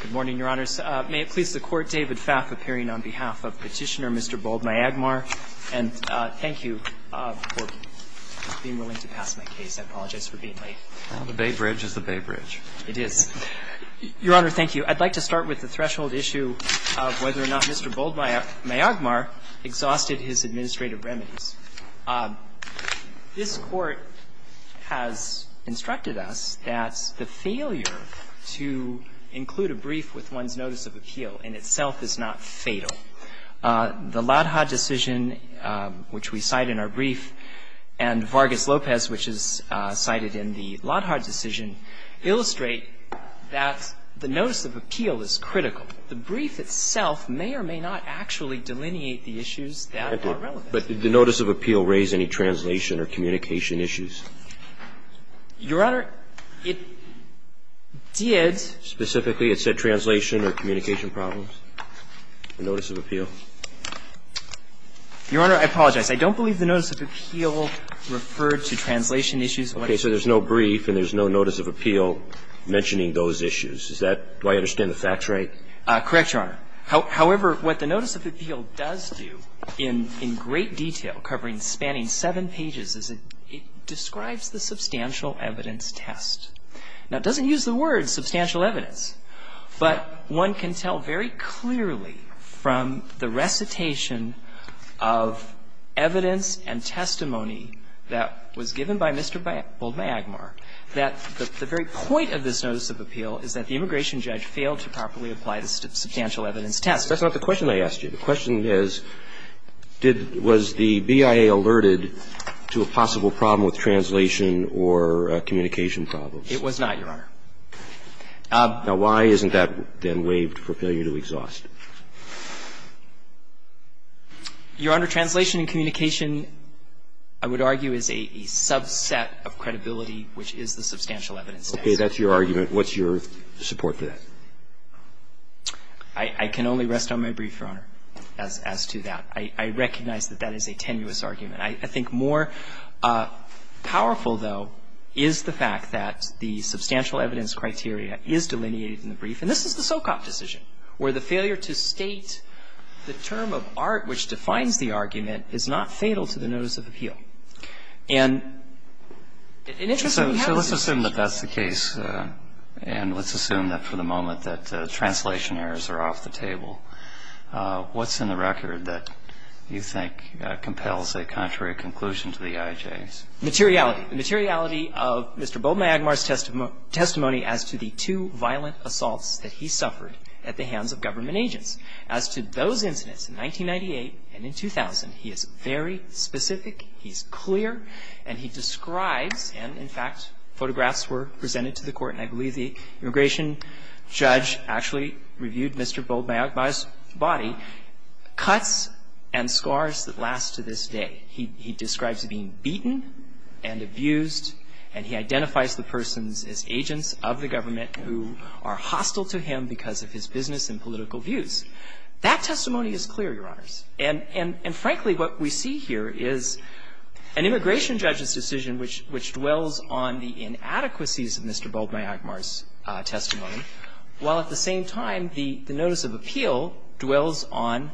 Good morning, Your Honors. May it please the Court, David Pfaff appearing on behalf of Petitioner Mr. Boldmyagmar, and thank you for being willing to pass my case. I apologize for being late. The Bay Bridge is the Bay Bridge. It is. Your Honor, thank you. I'd like to start with the threshold issue of whether or not Mr. Boldmyagmar exhausted his administrative remedies. This Court has instructed us that the failure to include a brief with one's notice of appeal in itself is not fatal. The Lodhar decision, which we cite in our brief, and Vargas-Lopez, which is cited in the Lodhar decision, illustrate that the notice of appeal is critical. The brief itself may or may not actually delineate the issues that are relevant. But did the notice of appeal raise any translation or communication issues? Your Honor, it did. Specifically, it said translation or communication problems, the notice of appeal. Your Honor, I apologize. I don't believe the notice of appeal referred to translation issues. Okay. So there's no brief and there's no notice of appeal mentioning those issues. Is that – do I understand the facts right? Correct, Your Honor. However, what the notice of appeal does do in great detail, covering spanning seven pages, is it describes the substantial evidence test. Now, it doesn't use the word substantial evidence, but one can tell very clearly from the recitation of evidence and testimony that was given by Mr. Boldmyagmar that the very point of this notice of appeal is that the immigration judge failed to properly apply the substantial evidence test. That's not the question I asked you. The question is, did – was the BIA alerted to a possible problem with translation or communication problems? It was not, Your Honor. Now, why isn't that then waived for failure to exhaust? Your Honor, translation and communication, I would argue, is a subset of credibility, which is the substantial evidence test. That's your argument. What's your support for that? I can only rest on my brief, Your Honor, as to that. I recognize that that is a tenuous argument. I think more powerful, though, is the fact that the substantial evidence criteria is delineated in the brief, and this is the Socop decision, where the failure to state the term of art which defines the argument is not fatal to the notice of appeal. And it interests me how this is achieved. But that's the case. And let's assume that, for the moment, that translation errors are off the table. What's in the record that you think compels a contrary conclusion to the IJs? Materiality. The materiality of Mr. Bowe Magmar's testimony as to the two violent assaults that he suffered at the hands of government agents. As to those incidents in 1998 and in 2000, he is very specific, he's clear, and he And I believe the immigration judge actually reviewed Mr. Bowe Magmar's body. Cuts and scars that last to this day. He describes being beaten and abused, and he identifies the persons as agents of the government who are hostile to him because of his business and political views. That testimony is clear, Your Honors. And frankly, what we see here is an immigration judge's decision which dwells on the inadequacies of Mr. Bowe Magmar's testimony, while at the same time, the notice of appeal dwells on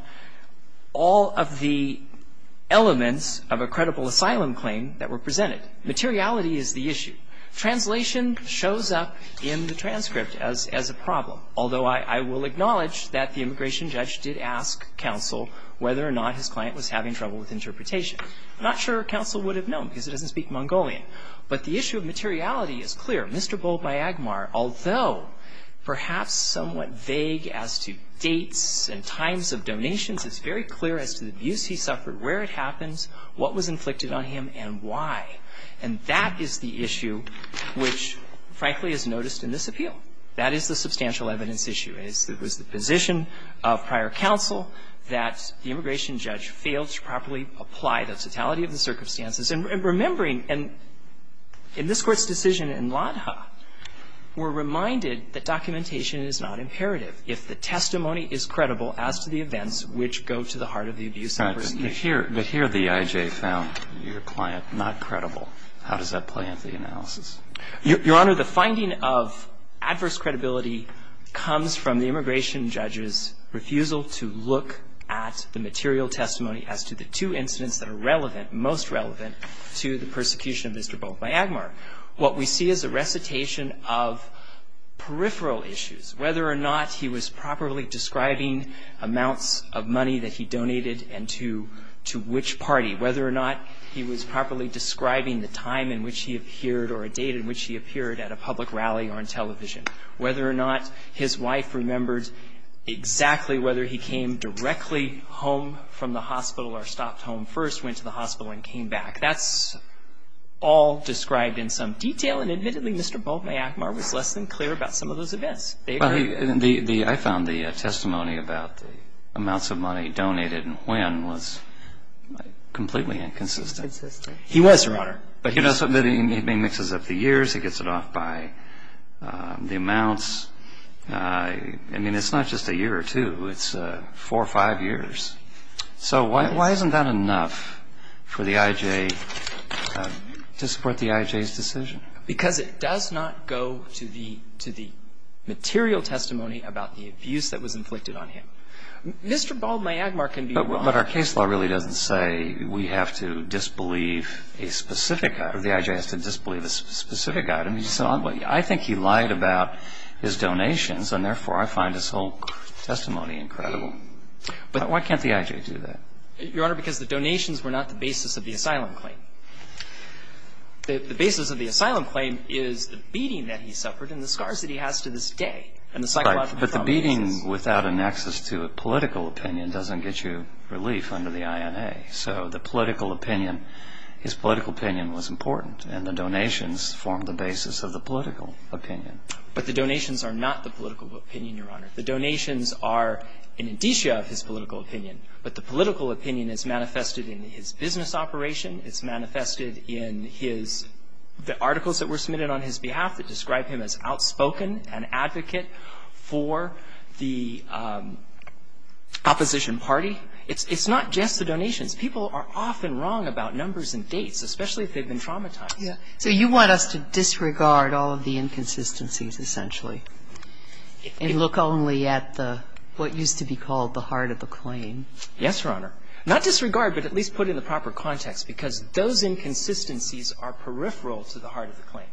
all of the elements of a credible asylum claim that were presented. Materiality is the issue. Translation shows up in the transcript as a problem. Although I will acknowledge that the immigration judge did ask counsel whether or not his client was having trouble with interpretation. I'm not sure counsel would have known because it doesn't speak Mongolian. But the issue of materiality is clear. Mr. Bowe Magmar, although perhaps somewhat vague as to dates and times of donations, it's very clear as to the abuse he suffered, where it happens, what was inflicted on him, and why. And that is the issue which, frankly, is noticed in this appeal. That is the substantial evidence issue. It was the position of prior counsel that the immigration judge failed to properly apply the totality of the circumstances. And remembering, in this Court's decision in Lodha, we're reminded that documentation is not imperative if the testimony is credible as to the events which go to the heart of the abuse. But here the EIJ found your client not credible. How does that play into the analysis? Your Honor, the finding of adverse credibility comes from the immigration judge's refusal to look at the material testimony as to the two incidents that are relevant, most relevant, to the persecution of Mr. Bowe Magmar. What we see is a recitation of peripheral issues, whether or not he was properly describing amounts of money that he donated and to which party, whether or not he was properly describing the time in which he appeared or a date in which he appeared at a public rally or on television, whether or not his wife remembered exactly whether he came directly home from the hospital or stopped home first, went to the hospital and came back. That's all described in some detail. And admittedly, Mr. Bowe Magmar was less than clear about some of those events. I found the testimony about the amounts of money donated and when was completely inconsistent. He was, Your Honor. But he mixes up the years. He gets it off by the amounts. I mean, it's not just a year or two. It's four or five years. So why isn't that enough for the I.J. to support the I.J.'s decision? Because it does not go to the material testimony about the abuse that was inflicted on him. Mr. Bowe Magmar can be wrong. But our case law really doesn't say we have to disbelieve a specific item. The I.J. has to disbelieve a specific item. I think he lied about his donations, and therefore I find his whole testimony incredible. Why can't the I.J. do that? Your Honor, because the donations were not the basis of the asylum claim. The basis of the asylum claim is the beating that he suffered and the scars that he has to this day. But the beating without an access to a political opinion doesn't get you relief under the I.N.A. So the political opinion, his political opinion was important. And the donations formed the basis of the political opinion. But the donations are not the political opinion, Your Honor. The donations are an indicia of his political opinion. But the political opinion is manifested in his business operation. It's manifested in his the articles that were submitted on his behalf that describe him as outspoken, an advocate for the opposition party. It's not just the donations. People are often wrong about numbers and dates, especially if they've been traumatized. Yeah. So you want us to disregard all of the inconsistencies essentially and look only at the what used to be called the heart of the claim? Yes, Your Honor. Not disregard, but at least put in the proper context, because those inconsistencies are peripheral to the heart of the claim.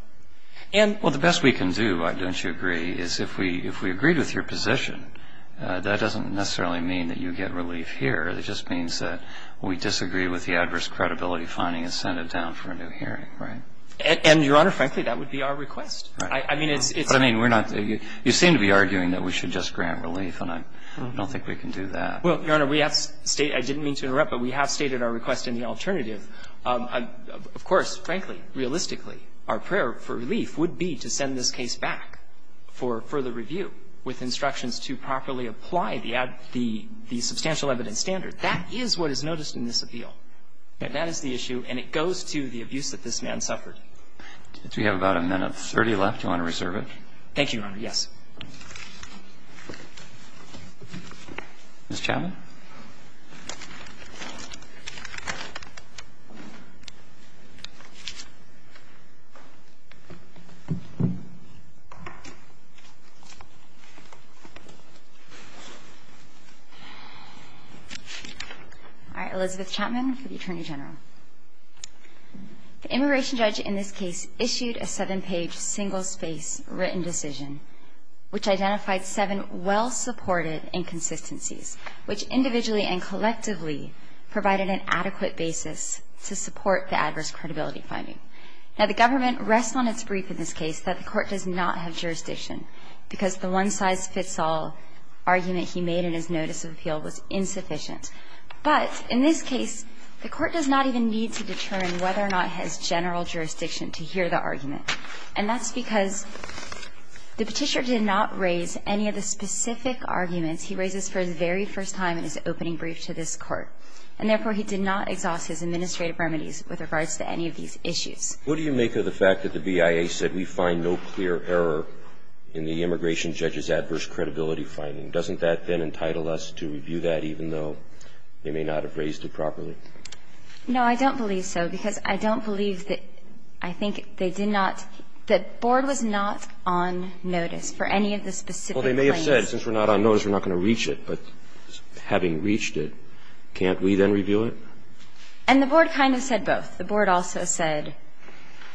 And the best we can do, don't you agree, is if we agreed with your position, that doesn't necessarily mean that you get relief here. It just means that we disagree with the adverse credibility finding and send it down for a new hearing, right? And, Your Honor, frankly, that would be our request. Right. I mean, it's the same. You seem to be arguing that we should just grant relief, and I don't think we can do that. Well, Your Honor, I didn't mean to interrupt, but we have stated our request in the alternative. Of course, frankly, realistically, our prayer for relief would be to send this case back for further review with instructions to properly apply the substantial evidence standard. That is what is noticed in this appeal. That is the issue. And it goes to the abuse that this man suffered. Do we have about a minute of 30 left? Do you want to reserve it? Thank you, Your Honor. Ms. Chapman. All right. Elizabeth Chapman for the Attorney General. The immigration judge in this case issued a seven-page, single-space written decision, which identified seven well-supported inconsistencies, which individually and collectively provided an adequate basis to support the adverse credibility finding. Now, the government rests on its brief in this case that the court does not have jurisdiction because the one-size-fits-all argument he made in his notice of appeal was insufficient. But in this case, the court does not even need to determine whether or not it has general jurisdiction to hear the argument. And that's because the Petitioner did not raise any of the specific arguments he raises for the very first time in his opening brief to this Court. And therefore, he did not exhaust his administrative remedies with regards to any of these issues. What do you make of the fact that the BIA said we find no clear error in the immigration judge's adverse credibility finding? Doesn't that then entitle us to review that even though they may not have raised it properly? No, I don't believe so, because I don't believe that I think they did not – the Board was not on notice for any of the specific claims. Well, they may have said, since we're not on notice, we're not going to reach it. But having reached it, can't we then review it? And the Board kind of said both. The Board also said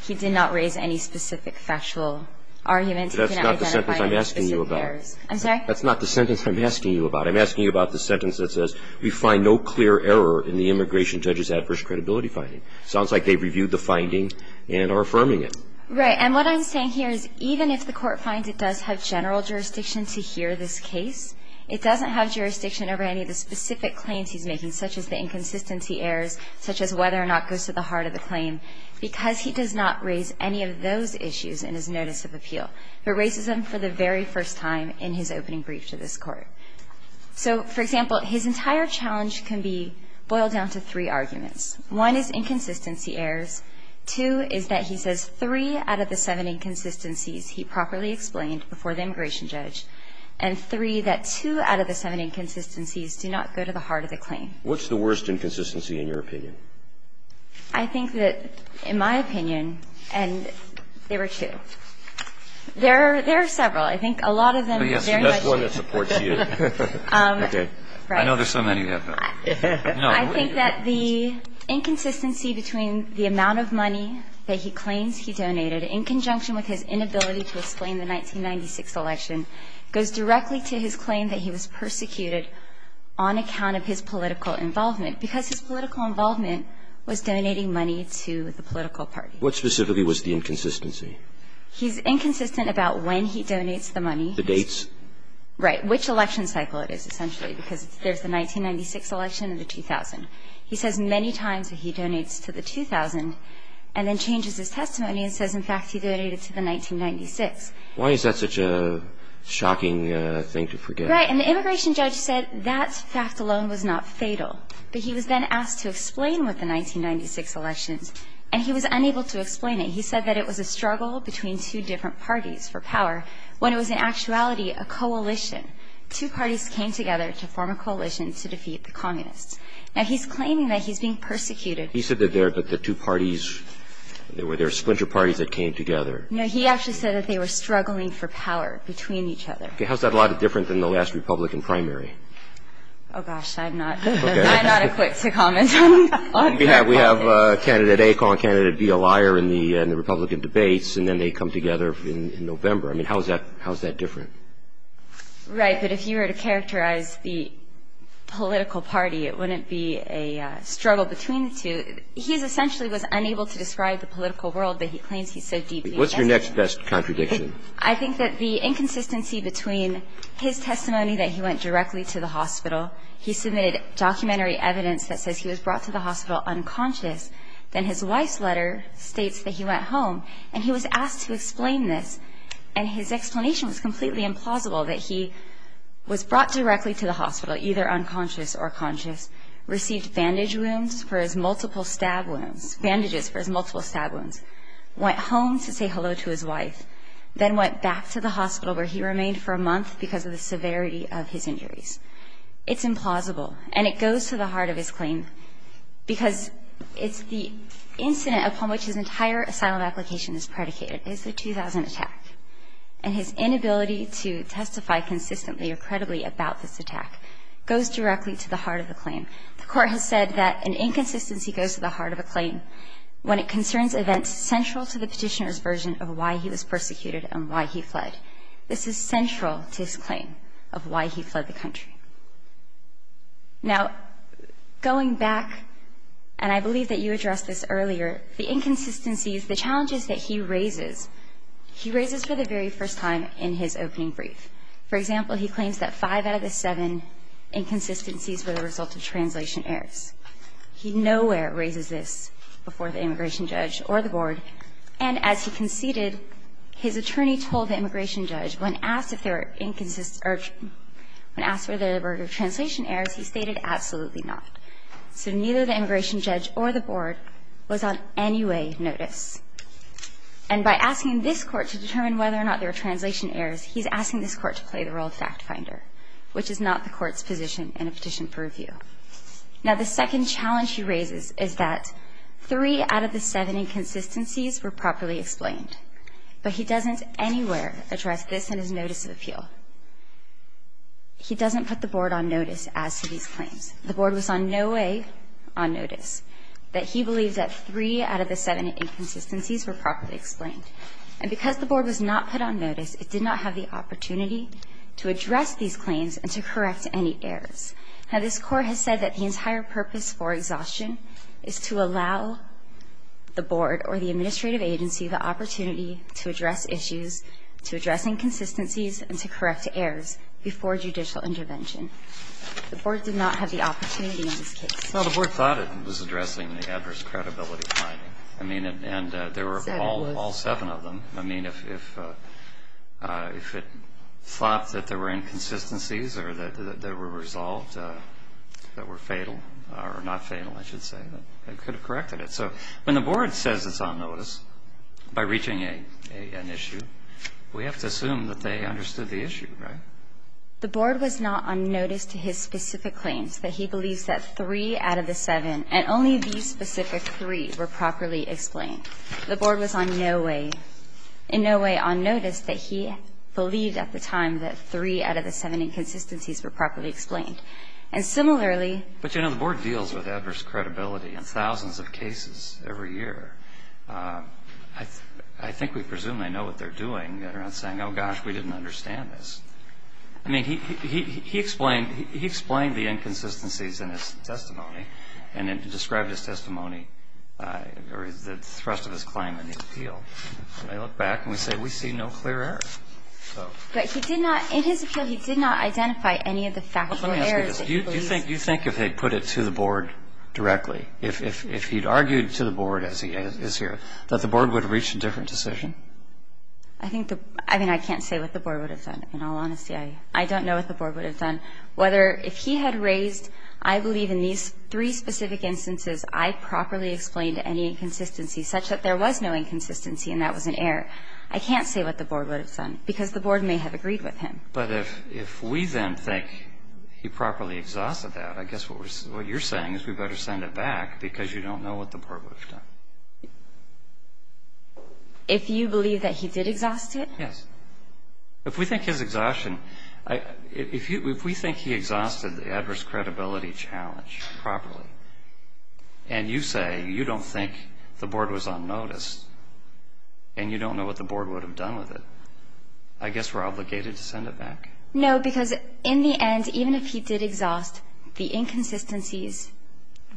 he did not raise any specific factual argument. That's not the sentence I'm asking you about. I'm asking you about the sentence that says we find no clear error in the immigration judge's adverse credibility finding. It sounds like they've reviewed the finding and are affirming it. Right. And what I'm saying here is even if the Court finds it does have general jurisdiction to hear this case, it doesn't have jurisdiction over any of the specific claims he's making, such as the inconsistency errors, such as whether or not it goes to the heart of the claim, because he does not raise any of those issues in his notice of appeal. He raises them for the very first time in his opening brief to this Court. So, for example, his entire challenge can be boiled down to three arguments. One is inconsistency errors. Two is that he says three out of the seven inconsistencies he properly explained before the immigration judge. And three, that two out of the seven inconsistencies do not go to the heart of the claim. What's the worst inconsistency in your opinion? I think that, in my opinion, and there were two. There are several. I think a lot of them very much do. That's one that supports you. Okay. Right. I know there's so many. I think that the inconsistency between the amount of money that he claims he donated in conjunction with his inability to explain the 1996 election goes directly to his claim that he was persecuted on account of his political involvement, because his political involvement was donating money to the political party. What specifically was the inconsistency? He's inconsistent about when he donates the money. The dates? Right. Which election cycle it is, essentially, because there's the 1996 election and the 2000. He says many times that he donates to the 2000, and then changes his testimony and says, in fact, he donated to the 1996. Why is that such a shocking thing to forget? Right. And the immigration judge said that fact alone was not fatal. But he was then asked to explain what the 1996 elections, and he was unable to explain it. He said that it was a struggle between two different parties for power, when it was in actuality a coalition. Two parties came together to form a coalition to defeat the communists. Now, he's claiming that he's being persecuted. He said that the two parties, there were splinter parties that came together. No. He actually said that they were struggling for power between each other. Okay. How's that a lot different than the last Republican primary? Oh, gosh. I'm not equipped to comment on that. We have candidate A calling candidate B a liar in the Republican debates, and then they come together in November. I mean, how is that different? Right. But if you were to characterize the political party, it wouldn't be a struggle between the two. He essentially was unable to describe the political world that he claims he's so deeply invested in. What's your next best contradiction? I think that the inconsistency between his testimony that he went directly to the hospital, he submitted documentary evidence that says he was brought to the hospital unconscious. Then his wife's letter states that he went home, and he was asked to explain this. And his explanation was completely implausible, that he was brought directly to the hospital, either unconscious or conscious, received bandage wounds for his multiple stab wounds, bandages for his multiple stab wounds, went home to say hello to his wife, then went back to the hospital where he remained for a month because of the severity of his injuries. It's implausible. And it goes to the heart of his claim because it's the incident upon which his entire asylum application is predicated, is the 2000 attack. And his inability to testify consistently or credibly about this attack goes directly to the heart of the claim. The Court has said that an inconsistency goes to the heart of a claim when it concerns events central to the petitioner's version of why he was persecuted and why he fled. This is central to his claim of why he fled the country. Now, going back, and I believe that you addressed this earlier, the inconsistencies the challenges that he raises, he raises for the very first time in his opening brief. For example, he claims that five out of the seven inconsistencies were the result of translation errors. He nowhere raises this before the immigration judge or the board. And as he conceded, his attorney told the immigration judge, when asked if there were translation errors, he stated, absolutely not. So neither the immigration judge or the board was on any way notice. And by asking this Court to determine whether or not there were translation errors, he's asking this Court to play the role of fact finder, which is not the Court's position in a petition for review. Now, the second challenge he raises is that three out of the seven inconsistencies were properly explained, but he doesn't anywhere address this in his notice of appeal. He doesn't put the board on notice as to these claims. The board was on no way on notice that he believed that three out of the seven inconsistencies were properly explained. And because the board was not put on notice, it did not have the opportunity to address these claims and to correct any errors. Now, this Court has said that the entire purpose for exhaustion is to allow the board or the administrative agency the opportunity to address issues, to address inconsistencies and to correct errors before judicial intervention. The board did not have the opportunity in this case. Well, the board thought it was addressing the adverse credibility finding. I mean, and there were all seven of them. I mean, if it thought that there were inconsistencies or that they were resolved that were fatal or not fatal, I should say, they could have corrected it. So when the board says it's on notice, by reaching an issue, we have to assume that they understood the issue, right? The board was not on notice to his specific claims, that he believes that three out of the seven, and only these specific three, were properly explained. The board was on no way, in no way on notice that he believed at the time that three out of the seven inconsistencies were properly explained. And similarly ---- But, you know, the board deals with adverse credibility in thousands of cases every year. I think we presume they know what they're doing. They're not saying, oh, gosh, we didn't understand this. I mean, he explained the inconsistencies in his testimony and described his testimony or the thrust of his claim in the appeal. When I look back and we say, we see no clear error. But he did not ---- in his appeal, he did not identify any of the factual errors that he believes. You think if they put it to the board directly, if he'd argued to the board as he is here, that the board would have reached a different decision? I think the ---- I mean, I can't say what the board would have done, in all honesty. I don't know what the board would have done. Whether if he had raised, I believe in these three specific instances, I properly explained any inconsistency, such that there was no inconsistency and that was an error. I can't say what the board would have done, because the board may have agreed with him. But if we then think he properly exhausted that, I guess what you're saying is we better send it back because you don't know what the board would have done. If you believe that he did exhaust it? Yes. If we think his exhaustion, if we think he exhausted the adverse credibility challenge properly and you say you don't think the board was unnoticed and you don't know what the board would have done with it, I guess we're obligated to send it back? No, because in the end, even if he did exhaust, the inconsistencies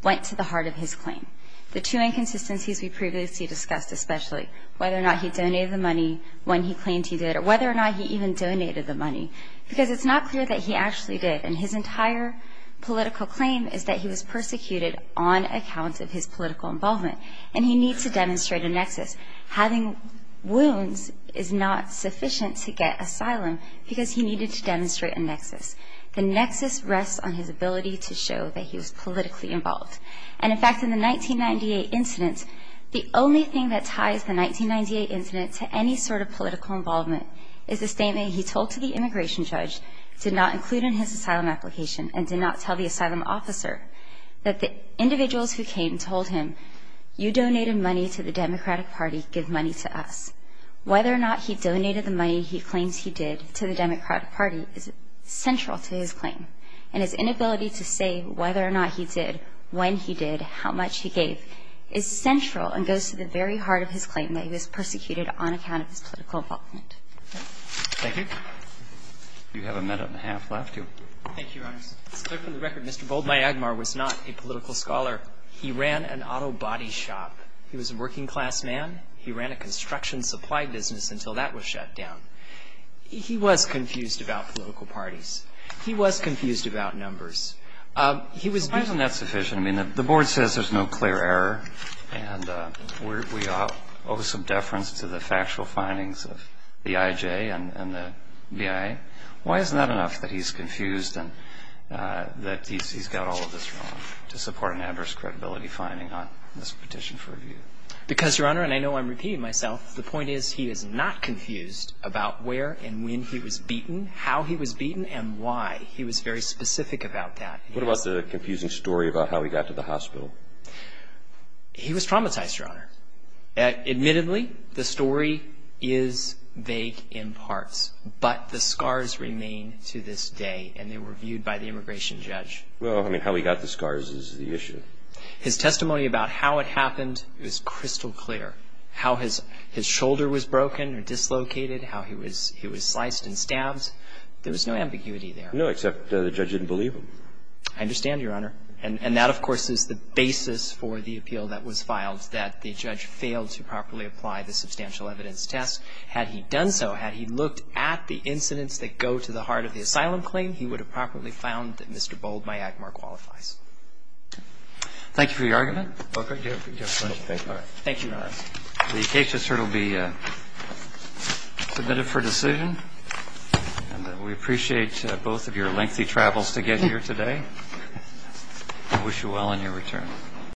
went to the heart of his claim. The two inconsistencies we previously discussed, especially whether or not he donated the money when he claimed he did or whether or not he even donated the money, because it's not clear that he actually did. And his entire political claim is that he was persecuted on account of his political involvement. And he needs to demonstrate a nexus. Having wounds is not sufficient to get asylum because he needed to demonstrate a nexus. The nexus rests on his ability to show that he was politically involved. And in fact, in the 1998 incident, the only thing that ties the 1998 incident to any sort of political involvement is the statement he told to the immigration judge, did not include in his asylum application and did not tell the asylum officer, that the individuals who came told him, you donated money to the Democratic Party, give money to us. Whether or not he donated the money he claims he did to the Democratic Party is whether or not he did, when he did, how much he gave, is central and goes to the very heart of his claim that he was persecuted on account of his political involvement. Thank you. You have a minute and a half left. Thank you, Your Honors. It's clear from the record Mr. Boldmyagmar was not a political scholar. He ran an auto body shop. He was a working class man. He ran a construction supply business until that was shut down. He was confused about political parties. He was confused about numbers. He was beaten. Why isn't that sufficient? I mean, the Board says there's no clear error and we owe some deference to the factual findings of the IJ and the BIA. Why isn't that enough that he's confused and that he's got all of this wrong to support an adverse credibility finding on this petition for review? Because, Your Honor, and I know I'm repeating myself, the point is he is not confused about where and when he was beaten, how he was beaten, and why. He was very specific about that. What about the confusing story about how he got to the hospital? He was traumatized, Your Honor. Admittedly, the story is vague in parts, but the scars remain to this day, and they were viewed by the immigration judge. Well, I mean, how he got the scars is the issue. His testimony about how it happened is crystal clear. How his shoulder was broken or dislocated, how he was sliced and stabbed, there was no ambiguity there. No, except the judge didn't believe him. I understand, Your Honor. And that, of course, is the basis for the appeal that was filed, that the judge failed to properly apply the substantial evidence test. Had he done so, had he looked at the incidents that go to the heart of the asylum claim, he would have properly found that Mr. Bold by Agmar qualifies. Thank you for your argument. Thank you, Your Honor. The case just heard will be submitted for decision. And we appreciate both of your lengthy travels to get here today. We wish you well in your return.